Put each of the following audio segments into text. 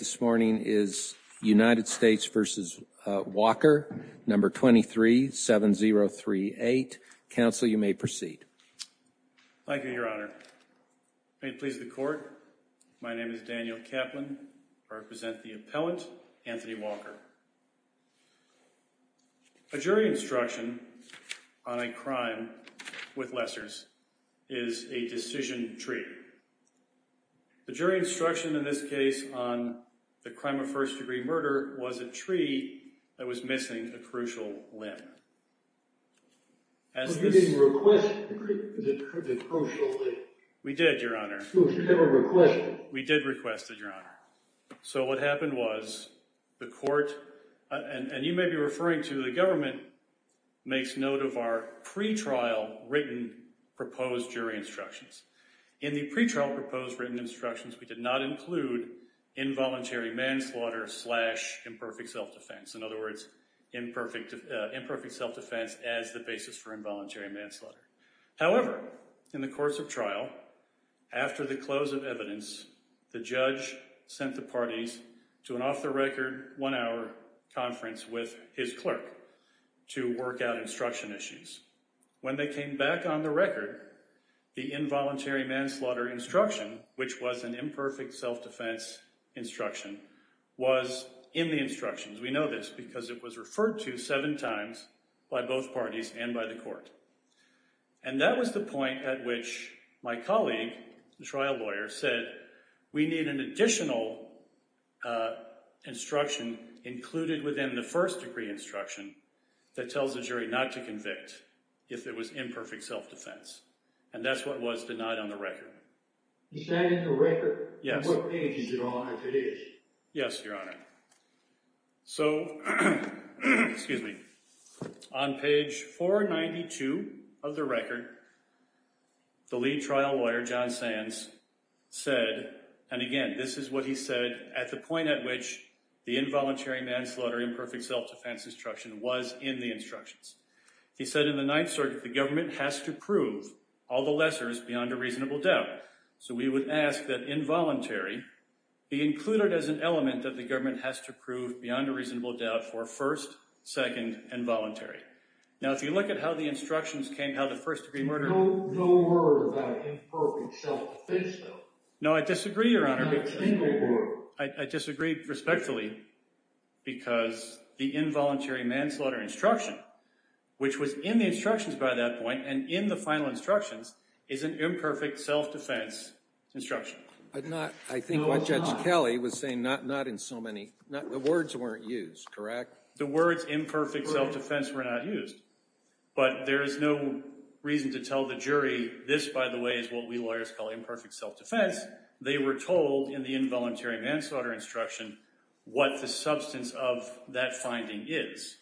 237038. Counsel, you may proceed. Thank you, Your Honor. May it please the court, my name is Daniel Kaplan. I represent the appellant, Anthony Walker. A jury instruction on a crime with lessors is a decision tree. The jury instruction in this case on the crime of first degree murder was a tree that was missing a crucial limb. You didn't request the crucial limb? We did, Your Honor. So you never requested it? We did request it, Your Honor. So what happened was the court, and you may be referring to the government, makes note of our pretrial written proposed jury instructions. In the pretrial proposed written instructions, we did not include involuntary manslaughter slash imperfect self-defense. In other words, imperfect self-defense as the basis for involuntary manslaughter. However, in the course of trial, after the close of evidence, the judge sent the parties to an off-the-record one-hour conference with his clerk to work out instruction issues. When they came back on the record, the involuntary manslaughter instruction, which was an imperfect self-defense instruction, was in the instructions. We know this because it was referred to seven times by both parties and by the court. And that was the point at which my colleague, the trial lawyer, said we need an additional instruction included within the first degree instruction that tells the jury not to convict if it was imperfect self-defense. And that's what was denied on the record. Is that in the record? Yes. And what page is it on if it is? Yes, Your Honor. So, excuse me, on page 492 of the record, the lead trial lawyer, John Sands, said, and again, this is what he said at the point at which the involuntary manslaughter imperfect self-defense instruction was in the instructions. He said in the Ninth Circuit, the government has to prove all the lessors beyond a reasonable doubt. So we would ask that involuntary be included as an element that the government has to prove beyond a reasonable doubt for first, second, and voluntary. Now, if you look at how the instructions came, how the first degree murder… No word about imperfect self-defense, though. No, I disagree, Your Honor. Not a single word. I disagree respectfully because the involuntary manslaughter instruction, which was in the instructions by that point and in the final instructions, is an imperfect self-defense instruction. I think what Judge Kelly was saying, not in so many… The words weren't used, correct? The words imperfect self-defense were not used. But there is no reason to tell the jury this, by the way, is what we lawyers call imperfect self-defense. They were told in the involuntary manslaughter instruction what the substance of that finding is.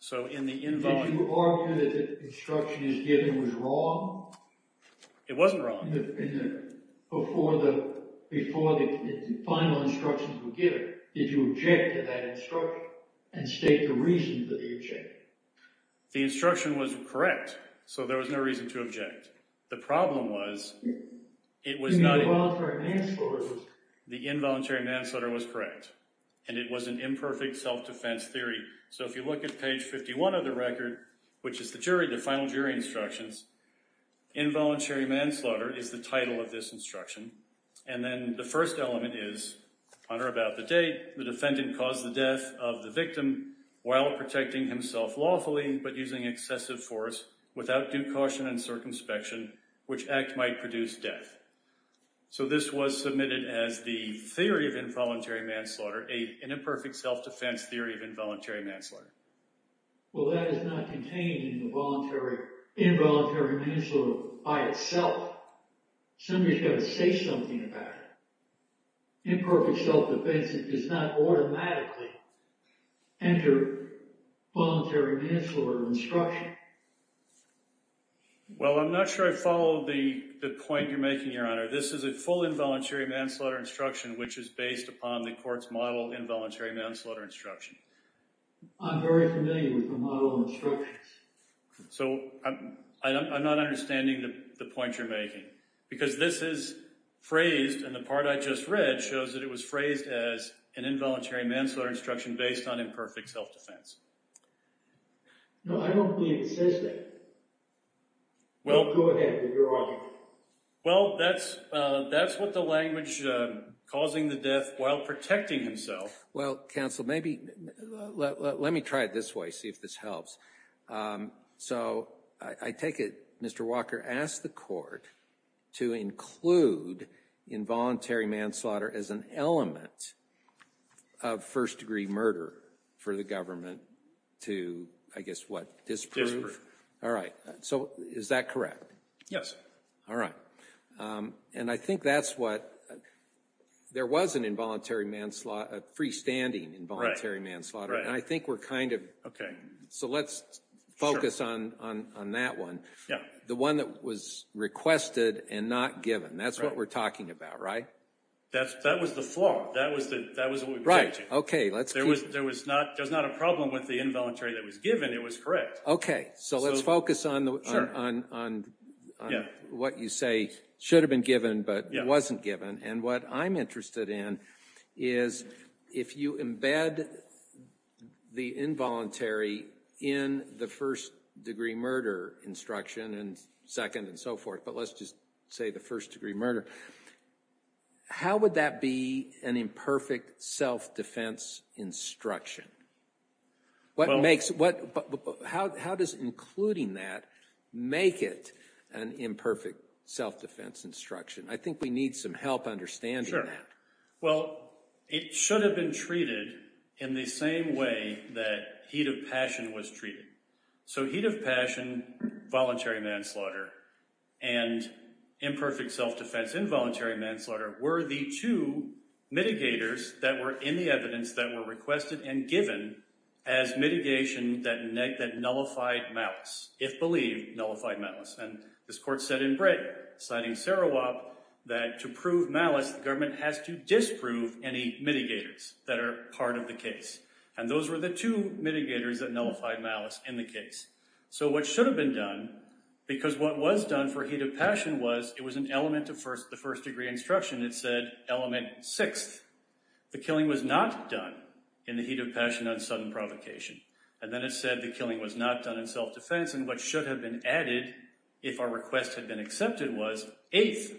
So in the involuntary… Did you argue that the instruction he was given was wrong? It wasn't wrong. Before the final instructions were given, did you object to that instruction and state the reasons that you objected? The instruction was correct, so there was no reason to object. The problem was it was not… In the involuntary manslaughter, it was… The involuntary manslaughter was correct, and it was an imperfect self-defense theory. So if you look at page 51 of the record, which is the jury, the final jury instructions, involuntary manslaughter is the title of this instruction. And then the first element is, on or about the date, the defendant caused the death of the victim while protecting himself lawfully but using excessive force without due caution and circumspection, which act might produce death. So this was submitted as the theory of involuntary manslaughter, an imperfect self-defense theory of involuntary manslaughter. Well, that is not contained in the involuntary manslaughter by itself. Somebody's got to say something about it. Imperfect self-defense, it does not automatically enter voluntary manslaughter instruction. Well, I'm not sure I follow the point you're making, Your Honor. This is a full involuntary manslaughter instruction, which is based upon the court's model involuntary manslaughter instruction. I'm very familiar with the model instructions. So I'm not understanding the point you're making because this is phrased, and the part I just read shows that it was phrased as an involuntary manslaughter instruction based on imperfect self-defense. No, I don't believe it says that. Go ahead, Your Honor. Well, that's what the language, causing the death while protecting himself. Well, counsel, let me try it this way, see if this helps. So I take it Mr. Walker asked the court to include involuntary manslaughter as an element of first-degree murder for the government to, I guess, what, disprove? All right, so is that correct? Yes. All right. And I think that's what, there was an involuntary manslaughter, a freestanding involuntary manslaughter. And I think we're kind of, so let's focus on that one. The one that was requested and not given. That's what we're talking about, right? That was the flaw. That was what we were teaching. Right, okay. There was not a problem with the involuntary that was given. It was correct. Okay, so let's focus on what you say should have been given but wasn't given. And what I'm interested in is if you embed the involuntary in the first-degree murder instruction and second and so forth, but let's just say the first-degree murder, how would that be an imperfect self-defense instruction? What makes, how does including that make it an imperfect self-defense instruction? I think we need some help understanding that. Well, it should have been treated in the same way that heat of passion was treated. So heat of passion, voluntary manslaughter, and imperfect self-defense, involuntary manslaughter were the two mitigators that were in the evidence that were requested and given as mitigation that nullified malice, if believed, nullified malice. And this court said in brick, citing Sarawop, that to prove malice, the government has to disprove any mitigators that are part of the case. And those were the two mitigators that nullified malice in the case. So what should have been done, because what was done for heat of passion was, it was an element of the first-degree instruction. It said element sixth. The killing was not done in the heat of passion on sudden provocation. And then it said the killing was not done in self-defense. And what should have been added, if our request had been accepted, was eighth.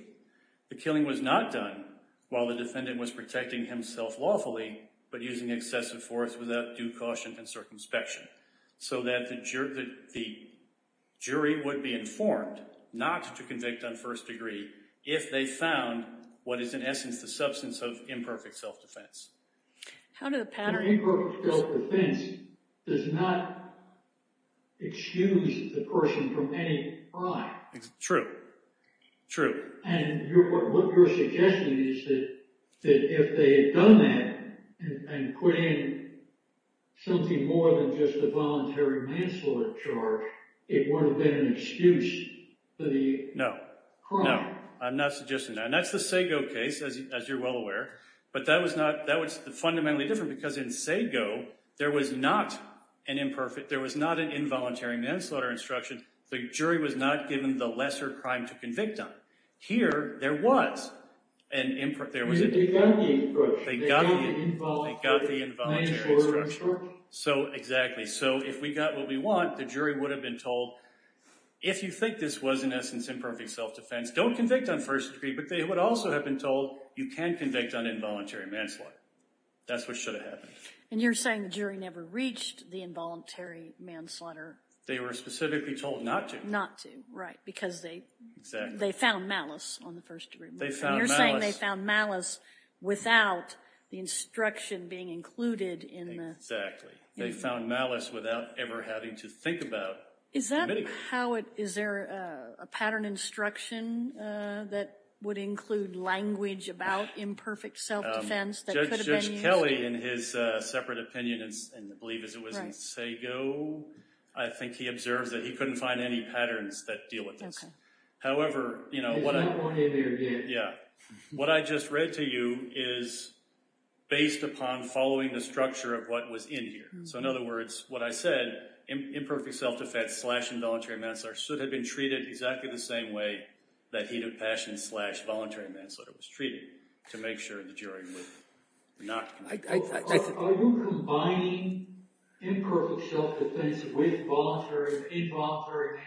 The killing was not done while the defendant was protecting himself lawfully, but using excessive force without due caution and circumspection. So that the jury would be informed not to convict on first degree if they found what is, in essence, the substance of imperfect self-defense. An imperfect self-defense does not excuse the person from any crime. True. True. And what you're suggesting is that if they had done that and put in something more than just a voluntary manslaughter charge, it would have been an excuse for the crime. No. No. I'm not suggesting that. And that's the Sago case, as you're well aware. But that was fundamentally different, because in Sago, there was not an involuntary manslaughter instruction. The jury was not given the lesser crime to convict on. Here, there was. They got the instruction. They got the involuntary manslaughter instruction. Exactly. So if we got what we want, the jury would have been told, if you think this was, in essence, imperfect self-defense, don't convict on first degree. But they would also have been told, you can convict on involuntary manslaughter. That's what should have happened. And you're saying the jury never reached the involuntary manslaughter. They were specifically told not to. Not to. Right. Because they found malice on the first degree. They found malice. And you're saying they found malice without the instruction being included in the... They found malice without ever having to think about committing it. Is that how it... Is there a pattern instruction that would include language about imperfect self-defense that could have been used? Judge Kelly, in his separate opinion, and I believe it was in Sago, I think he observes that he couldn't find any patterns that deal with this. However... There's no more in there yet. Yeah. What I just read to you is based upon following the structure of what was in here. So in other words, what I said, imperfect self-defense slash involuntary manslaughter should have been treated exactly the same way that heat of passion slash voluntary manslaughter was treated to make sure the jury would not... Are you combining imperfect self-defense with involuntary manslaughter?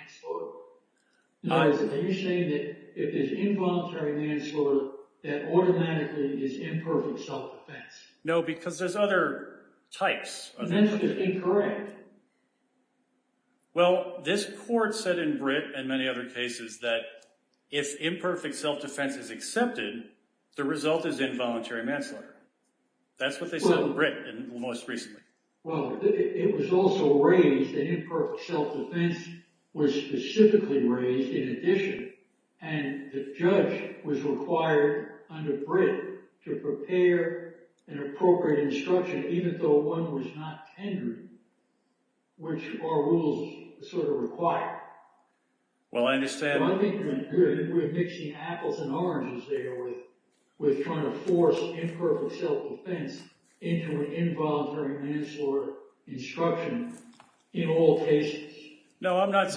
No. Are you saying that if it's involuntary manslaughter, that automatically is imperfect self-defense? No, because there's other types. That's just incorrect. Well, this court said in Britt and many other cases that if imperfect self-defense is accepted, the result is involuntary manslaughter. That's what they said in Britt most recently. Well, it was also raised that imperfect self-defense was specifically raised in addition, and the judge was required under Britt to prepare an appropriate instruction, even though one was not tendered, which our rules sort of require. Well, I understand. I think we're mixing apples and oranges there with trying to force imperfect self-defense into an involuntary manslaughter instruction in all cases. No, I'm not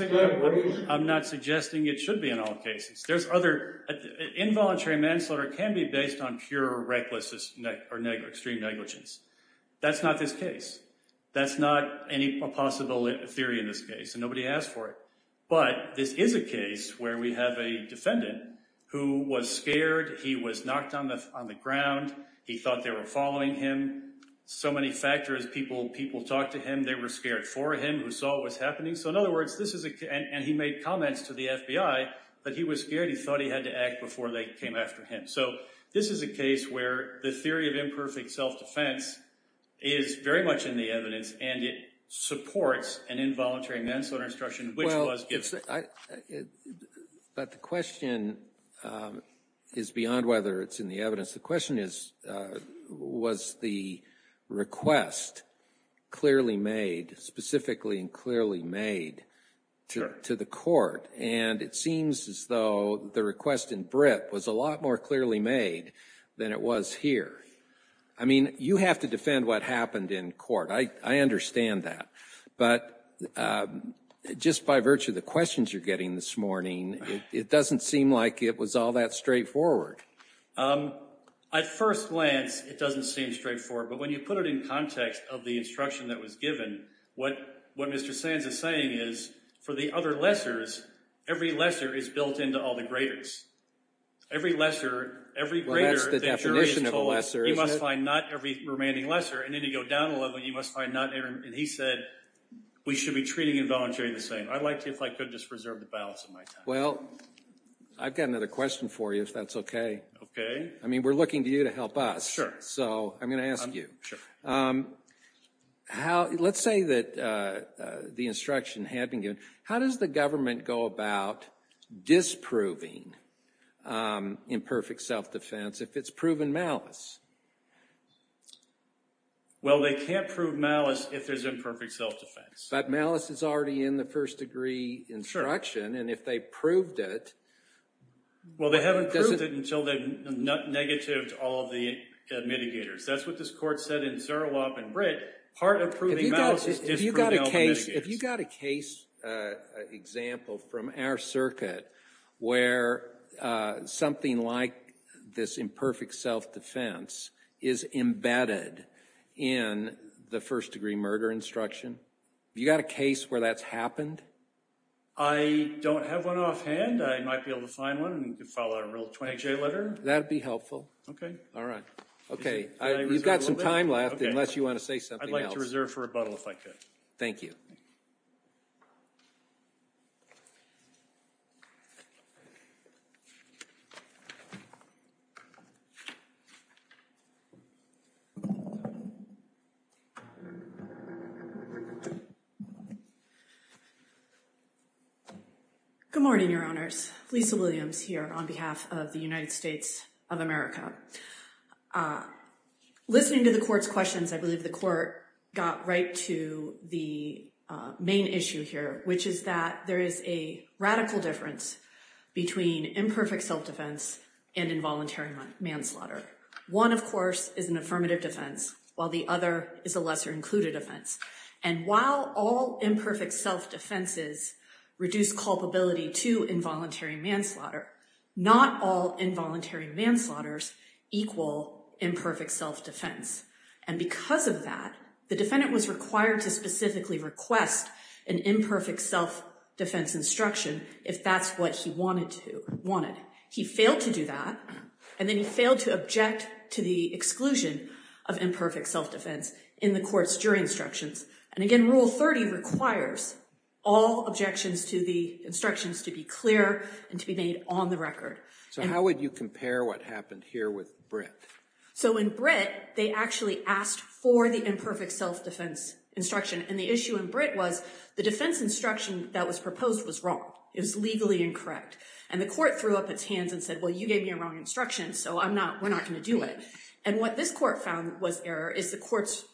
suggesting it should be in all cases. There's other... involuntary manslaughter can be based on pure recklessness or extreme negligence. That's not this case. That's not any possible theory in this case, and nobody asked for it. But this is a case where we have a defendant who was scared. He was knocked on the ground. He thought they were following him. So many factors, people talked to him. They were scared for him, who saw what was happening. So in other words, this is a – and he made comments to the FBI that he was scared. He thought he had to act before they came after him. So this is a case where the theory of imperfect self-defense is very much in the evidence, and it supports an involuntary manslaughter instruction, which was given. But the question is beyond whether it's in the evidence. The question is, was the request clearly made, specifically and clearly made to the court? And it seems as though the request in Brip was a lot more clearly made than it was here. I mean, you have to defend what happened in court. I understand that. But just by virtue of the questions you're getting this morning, it doesn't seem like it was all that straightforward. At first glance, it doesn't seem straightforward. But when you put it in context of the instruction that was given, what Mr. Sands is saying is, for the other lessors, every lesser is built into all the greaters. Every lesser, every greater – Well, that's the definition of a lesser, isn't it? You must find not every remaining lesser. And then to go down a level, you must find not – and he said we should be treating involuntarily the same. I'd like to, if I could, just reserve the balance of my time. Well, I've got another question for you, if that's okay. Okay. I mean, we're looking to you to help us. Sure. So I'm going to ask you. Let's say that the instruction had been given. How does the government go about disproving imperfect self-defense if it's proven malice? Well, they can't prove malice if there's imperfect self-defense. But malice is already in the first-degree instruction. Sure. Well, they haven't proved it until they've negatived all of the mitigators. That's what this court said in Zerilop and Britt. Part of proving malice is disproving all the mitigators. Have you got a case example from our circuit where something like this imperfect self-defense is embedded in the first-degree murder instruction? Have you got a case where that's happened? I don't have one offhand. I might be able to find one and file a real 20-J letter. That would be helpful. Okay. All right. Okay. You've got some time left unless you want to say something else. I'd like to reserve for rebuttal if I could. Thank you. Good morning, Your Honors. Lisa Williams here on behalf of the United States of America. Listening to the court's questions, I believe the court got right to the main issue here, which is that there is a radical difference between imperfect self-defense and involuntary manslaughter. One, of course, is an affirmative defense, while the other is a lesser-included offense. And while all imperfect self-defenses reduce culpability to involuntary manslaughter, not all involuntary manslaughters equal imperfect self-defense. And because of that, the defendant was required to specifically request an imperfect self-defense instruction if that's what he wanted. He failed to do that, and then he failed to object to the exclusion of imperfect self-defense in the court's jury instructions. And again, Rule 30 requires all objections to the instructions to be clear and to be made on the record. So how would you compare what happened here with Britt? So in Britt, they actually asked for the imperfect self-defense instruction. And the issue in Britt was the defense instruction that was proposed was wrong. It was legally incorrect. And the court threw up its hands and said, well, you gave me a wrong instruction, so we're not going to do it. And what this court found was error is the court's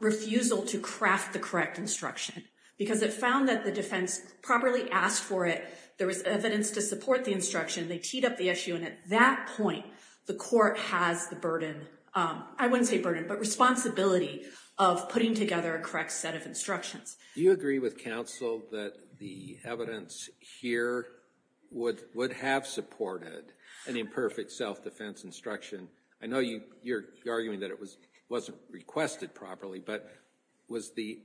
refusal to craft the correct instruction. Because it found that the defense properly asked for it. There was evidence to support the instruction. They teed up the issue. And at that point, the court has the burden, I wouldn't say burden, but responsibility of putting together a correct set of instructions. Do you agree with counsel that the evidence here would have supported an imperfect self-defense instruction? I know you're arguing that it wasn't requested properly, but was the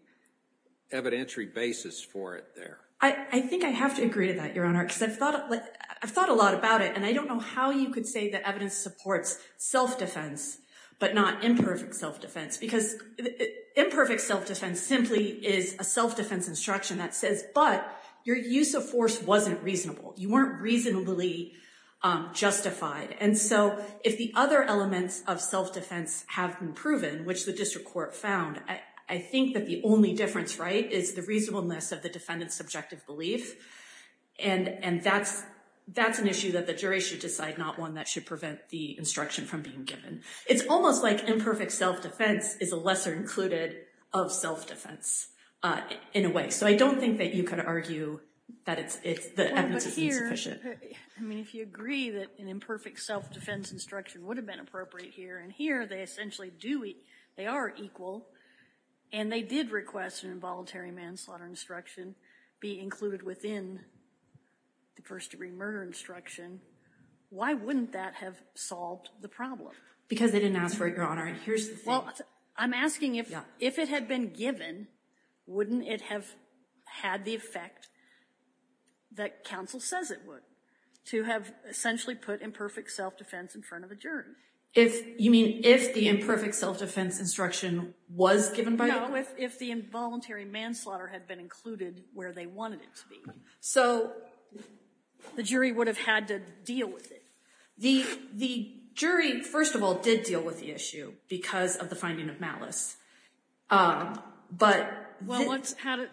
evidentiary basis for it there? I think I have to agree to that, Your Honor, because I've thought a lot about it. And I don't know how you could say that evidence supports self-defense but not imperfect self-defense. Because imperfect self-defense simply is a self-defense instruction that says, but your use of force wasn't reasonable. You weren't reasonably justified. And so if the other elements of self-defense have been proven, which the district court found, I think that the only difference, right, is the reasonableness of the defendant's subjective belief. And that's an issue that the jury should decide, not one that should prevent the instruction from being given. It's almost like imperfect self-defense is a lesser included of self-defense in a way. So I don't think that you could argue that the evidence is insufficient. But here, I mean, if you agree that an imperfect self-defense instruction would have been appropriate here, and here they essentially do, they are equal, and they did request an involuntary manslaughter instruction be included within the first degree murder instruction, why wouldn't that have solved the problem? Because they didn't ask for it, Your Honor, and here's the thing. Well, I'm asking if it had been given, wouldn't it have had the effect that counsel says it would? To have essentially put imperfect self-defense in front of the jury. You mean if the imperfect self-defense instruction was given by the jury? No, if the involuntary manslaughter had been included where they wanted it to be. So the jury would have had to deal with it. The jury, first of all, did deal with the issue because of the finding of malice.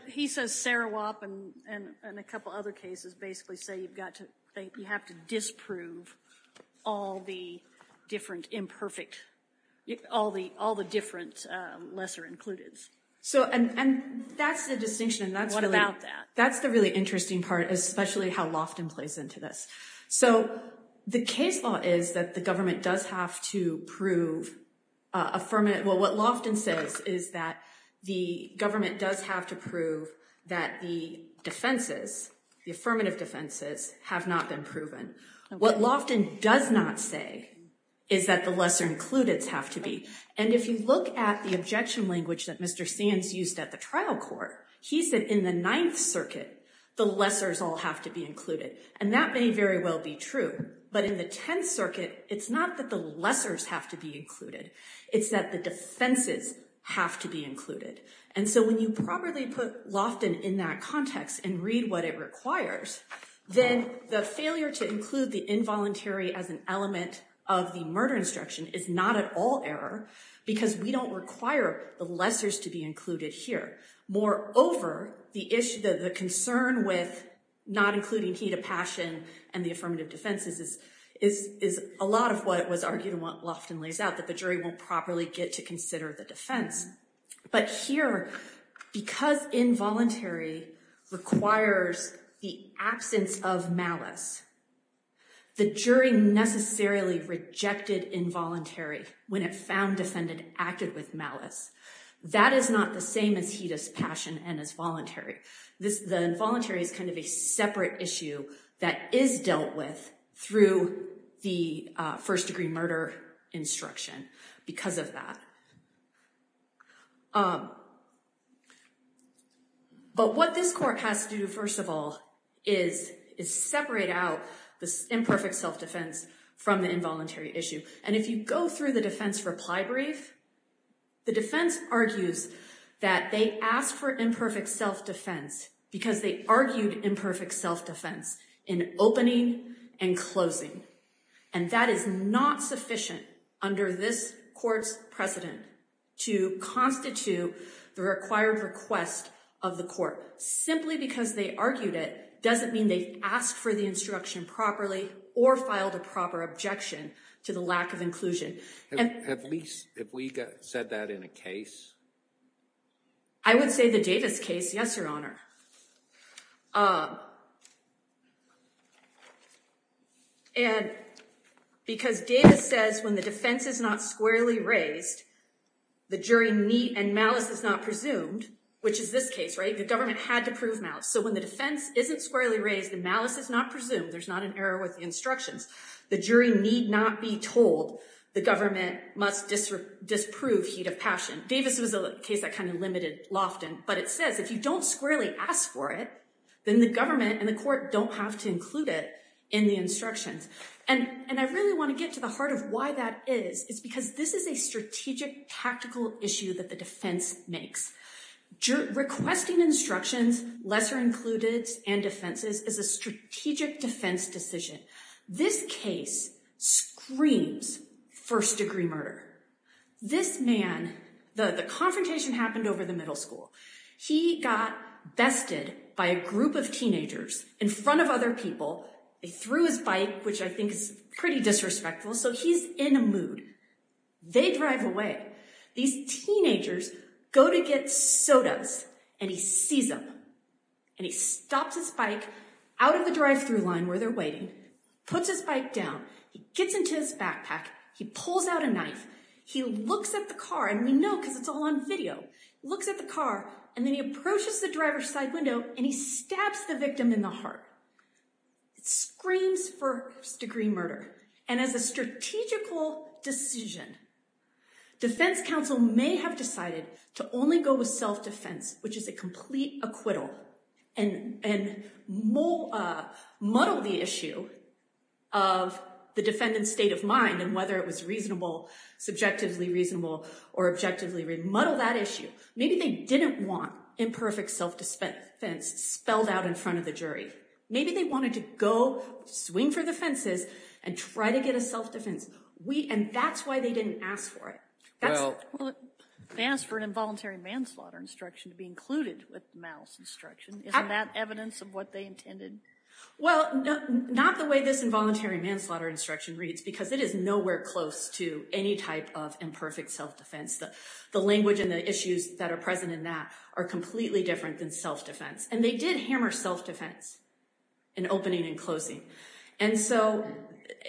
He says Sarawop and a couple other cases basically say you have to disprove all the different lesser included. And that's the distinction. What about that? That's the really interesting part, especially how Loftin plays into this. So the case law is that the government does have to prove affirmative. Well, what Loftin says is that the government does have to prove that the defenses, the affirmative defenses, have not been proven. What Loftin does not say is that the lesser included have to be. And if you look at the objection language that Mr. Sands used at the trial court, he said in the Ninth Circuit, the lessors all have to be included. And that may very well be true. But in the Tenth Circuit, it's not that the lessors have to be included. It's that the defenses have to be included. And so when you properly put Loftin in that context and read what it requires, then the failure to include the involuntary as an element of the murder instruction is not at all error because we don't require the lessors to be included here. Moreover, the concern with not including heed of passion and the affirmative defenses is a lot of what was argued and what Loftin lays out, that the jury won't properly get to consider the defense. But here, because involuntary requires the absence of malice, the jury necessarily rejected involuntary when it found defendant acted with malice. That is not the same as heed of passion and as voluntary. The involuntary is kind of a separate issue that is dealt with through the first degree murder instruction because of that. But what this court has to do, first of all, is separate out this imperfect self-defense from the involuntary issue. And if you go through the defense reply brief, the defense argues that they asked for imperfect self-defense because they argued imperfect self-defense in opening and closing. And that is not sufficient under this court's precedent to constitute the required request of the court. Simply because they argued it doesn't mean they asked for the instruction properly or filed a proper objection to the lack of inclusion. At least if we said that in a case. I would say the Davis case, yes, your honor. And because Davis says when the defense is not squarely raised, the jury need and malice is not presumed, which is this case, right? The government had to prove malice. So when the defense isn't squarely raised, the malice is not presumed. There's not an error with the instructions. The jury need not be told. The government must disprove heed of passion. Davis was a case that kind of limited Lofton, but it says if you don't squarely ask for it, then the government and the court don't have to include it in the instructions. And I really want to get to the heart of why that is. It's because this is a strategic tactical issue that the defense makes. Requesting instructions, lesser included, and defenses is a strategic defense decision. This case screams first degree murder. This man, the confrontation happened over the middle school. He got bested by a group of teenagers in front of other people. They threw his bike, which I think is pretty disrespectful. So he's in a mood. They drive away. These teenagers go to get sodas, and he sees them. And he stops his bike out of the drive-thru line where they're waiting, puts his bike down. He gets into his backpack. He pulls out a knife. He looks at the car, and we know because it's all on video. He looks at the car, and then he approaches the driver's side window, and he stabs the victim in the heart. It screams first degree murder. And as a strategical decision, defense counsel may have decided to only go with self-defense, which is a complete acquittal, and muddle the issue of the defendant's state of mind and whether it was reasonable, subjectively reasonable, or objectively reasonable. Muddle that issue. Maybe they didn't want imperfect self-defense spelled out in front of the jury. Maybe they wanted to go swing for the fences and try to get a self-defense. And that's why they didn't ask for it. They asked for an involuntary manslaughter instruction to be included with the mouse instruction. Isn't that evidence of what they intended? Well, not the way this involuntary manslaughter instruction reads because it is nowhere close to any type of imperfect self-defense. The language and the issues that are present in that are completely different than self-defense. And they did hammer self-defense in opening and closing. And so,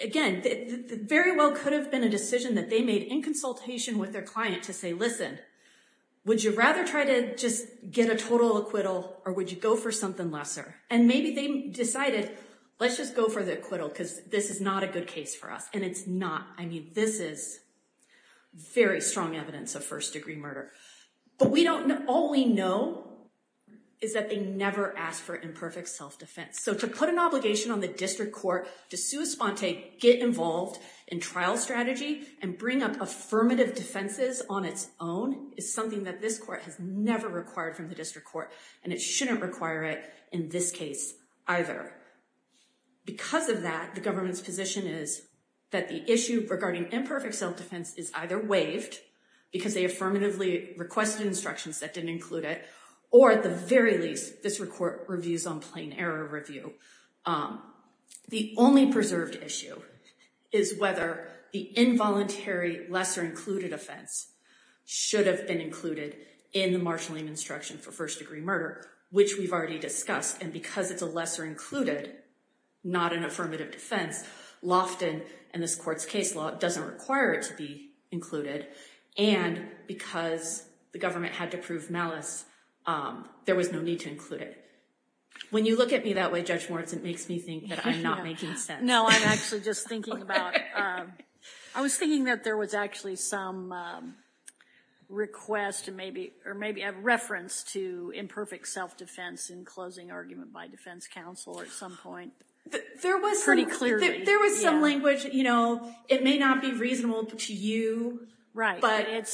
again, it very well could have been a decision that they made in consultation with their client to say, listen, would you rather try to just get a total acquittal or would you go for something lesser? And maybe they decided, let's just go for the acquittal because this is not a good case for us. And it's not. I mean, this is very strong evidence of first degree murder. But all we know is that they never asked for imperfect self-defense. So to put an obligation on the district court to sui sponte, get involved in trial strategy, and bring up affirmative defenses on its own is something that this court has never required from the district court. And it shouldn't require it in this case either. Because of that, the government's position is that the issue regarding imperfect self-defense is either waived because they affirmatively requested instructions that didn't include it, or at the very least, this court reviews on plain error review. The only preserved issue is whether the involuntary lesser included offense should have been included in the marshaling instruction for first degree murder, which we've already discussed. And because it's a lesser included, not an affirmative defense, Lofton and this court's case law doesn't require it to be included. And because the government had to prove malice, there was no need to include it. When you look at me that way, Judge Moritz, it makes me think that I'm not making sense. No, I'm actually just thinking about, I was thinking that there was actually some request or maybe a reference to imperfect self-defense in closing argument by defense counsel at some point. Pretty clearly. There was some language, you know, it may not be reasonable to you. Right.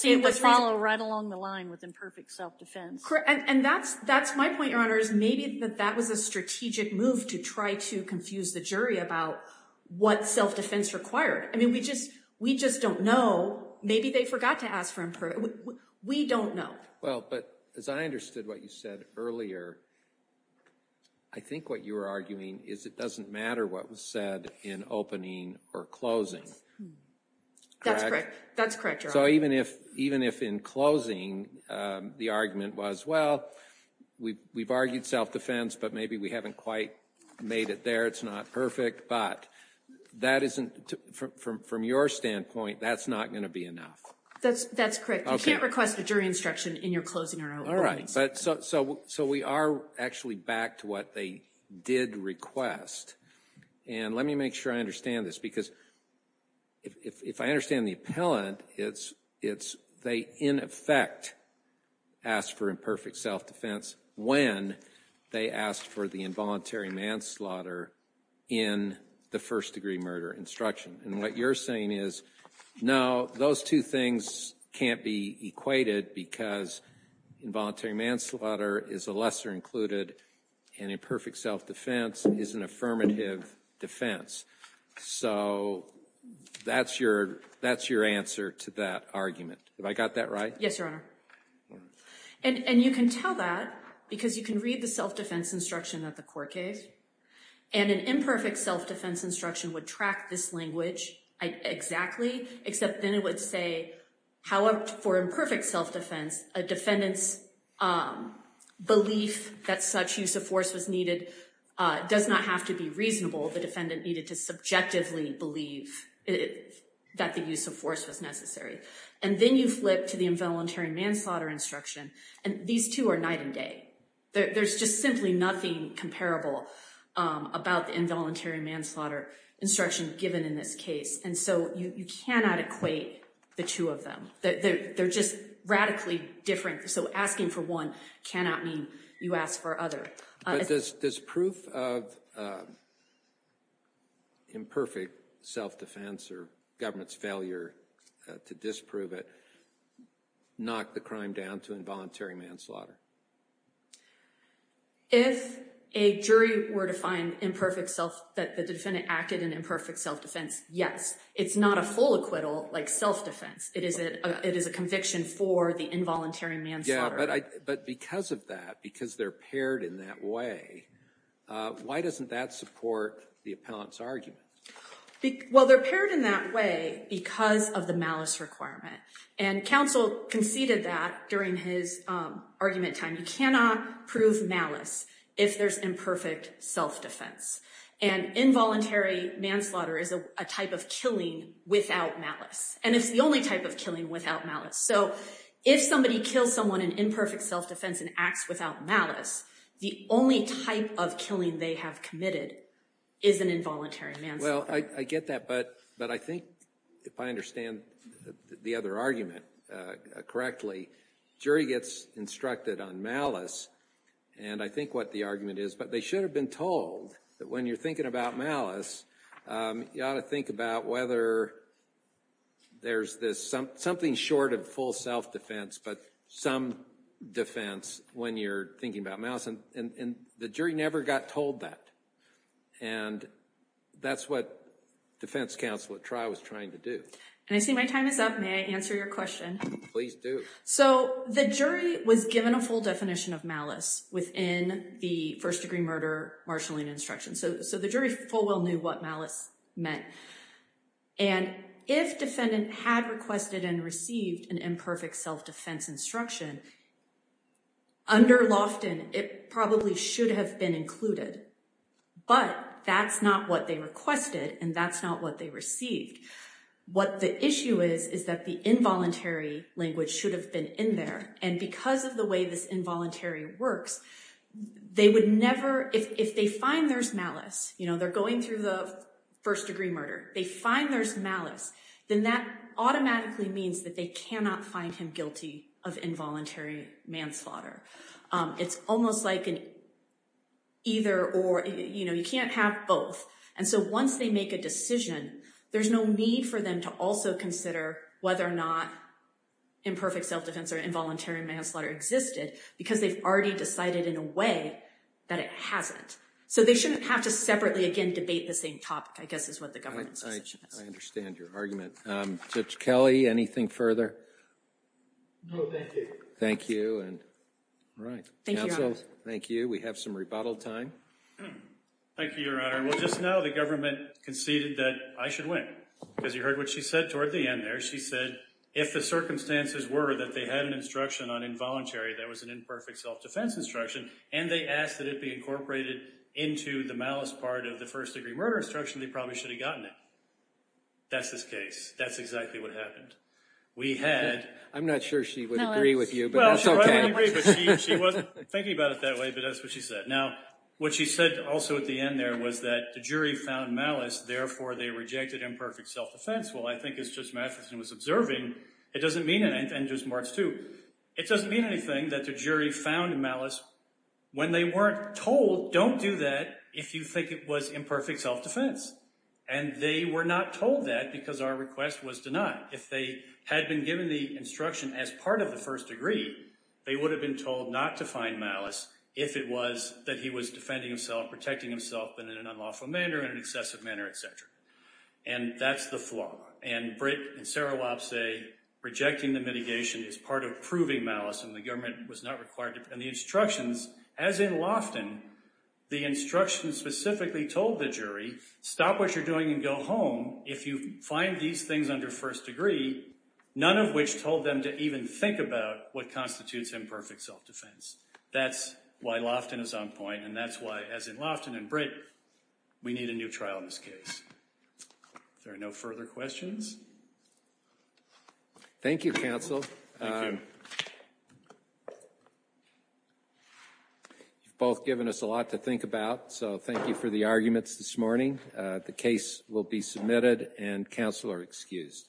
It would follow right along the line with imperfect self-defense. And that's my point, Your Honors. Maybe that was a strategic move to try to confuse the jury about what self-defense required. I mean, we just don't know. Maybe they forgot to ask for imperfect. We don't know. Well, but as I understood what you said earlier, I think what you were arguing is it doesn't matter what was said in opening or closing. That's correct. That's correct, Your Honor. So even if in closing the argument was, well, we've argued self-defense, but maybe we haven't quite made it there, it's not perfect. But that isn't, from your standpoint, that's not going to be enough. That's correct. You can't request a jury instruction in your closing arguments. So we are actually back to what they did request. And let me make sure I understand this, because if I understand the appellant, it's they, in effect, asked for imperfect self-defense when they asked for the involuntary manslaughter in the first-degree murder instruction. And what you're saying is, no, those two things can't be equated because involuntary manslaughter is a lesser included and imperfect self-defense is an affirmative defense. So that's your answer to that argument. Have I got that right? Yes, Your Honor. And you can tell that because you can read the self-defense instruction at the court case. And an imperfect self-defense instruction would track this language exactly, except then it would say, for imperfect self-defense, a defendant's belief that such use of force was needed does not have to be reasonable. The defendant needed to subjectively believe that the use of force was necessary. And then you flip to the involuntary manslaughter instruction, and these two are night and day. There's just simply nothing comparable about the involuntary manslaughter instruction given in this case. And so you cannot equate the two of them. They're just radically different. So asking for one cannot mean you ask for other. But does proof of imperfect self-defense or government's failure to disprove it knock the crime down to involuntary manslaughter? If a jury were to find that the defendant acted in imperfect self-defense, yes. It's not a full acquittal like self-defense. It is a conviction for the involuntary manslaughter. But because of that, because they're paired in that way, why doesn't that support the appellant's argument? Well, they're paired in that way because of the malice requirement. And counsel conceded that during his argument time. You cannot prove malice if there's imperfect self-defense. And involuntary manslaughter is a type of killing without malice. And it's the only type of killing without malice. So if somebody kills someone in imperfect self-defense and acts without malice, the only type of killing they have committed is an involuntary manslaughter. Well, I get that. But I think if I understand the other argument correctly, jury gets instructed on malice. And I think what the argument is. But they should have been told that when you're thinking about malice, you ought to think about whether there's something short of full self-defense, but some defense when you're thinking about malice. And the jury never got told that. And that's what defense counsel at trial was trying to do. And I see my time is up. May I answer your question? Please do. So the jury was given a full definition of malice within the first-degree murder marshalling instruction. So the jury full well knew what malice meant. And if defendant had requested and received an imperfect self-defense instruction, under Lofton, it probably should have been included. But that's not what they requested. And that's not what they received. What the issue is is that the involuntary language should have been in there. And because of the way this involuntary works, they would never – if they find there's malice, you know, they're going through the first-degree murder, they find there's malice, then that automatically means that they cannot find him guilty of involuntary manslaughter. It's almost like an either or. You know, you can't have both. And so once they make a decision, there's no need for them to also consider whether or not imperfect self-defense or involuntary manslaughter existed because they've already decided in a way that it hasn't. So they shouldn't have to separately, again, debate the same topic, I guess, is what the government's position is. I understand your argument. Judge Kelly, anything further? No, thank you. Thank you. Thank you, Your Honor. Thank you. We have some rebuttal time. Thank you, Your Honor. Well, just now the government conceded that I should win. As you heard what she said toward the end there, she said, if the circumstances were that they had an instruction on involuntary, that was an imperfect self-defense instruction, and they asked that it be incorporated into the malice part of the first-degree murder instruction, they probably should have gotten it. That's the case. That's exactly what happened. I'm not sure she would agree with you, but that's okay. Well, she wasn't thinking about it that way, but that's what she said. Now, what she said also at the end there was that the jury found malice, therefore they rejected imperfect self-defense. Well, I think as Judge Matheson was observing, it doesn't mean anything, and Judge Martz too, it doesn't mean anything that the jury found malice when they weren't told don't do that if you think it was imperfect self-defense. And they were not told that because our request was denied. If they had been given the instruction as part of the first-degree, they would have been told not to find malice if it was that he was defending himself, protecting himself in an unlawful manner, in an excessive manner, et cetera. And that's the flaw. And Britt and Sarah Lopp say rejecting the mitigation is part of proving malice and the government was not required to. And the instructions, as in Lofton, the instructions specifically told the jury, stop what you're doing and go home. If you find these things under first degree, none of which told them to even think about what constitutes imperfect self-defense. That's why Lofton is on point, and that's why, as in Lofton and Britt, we need a new trial in this case. If there are no further questions. Thank you, counsel. Thank you. You've both given us a lot to think about, so thank you for the arguments this morning. The case will be submitted and counsel are excused.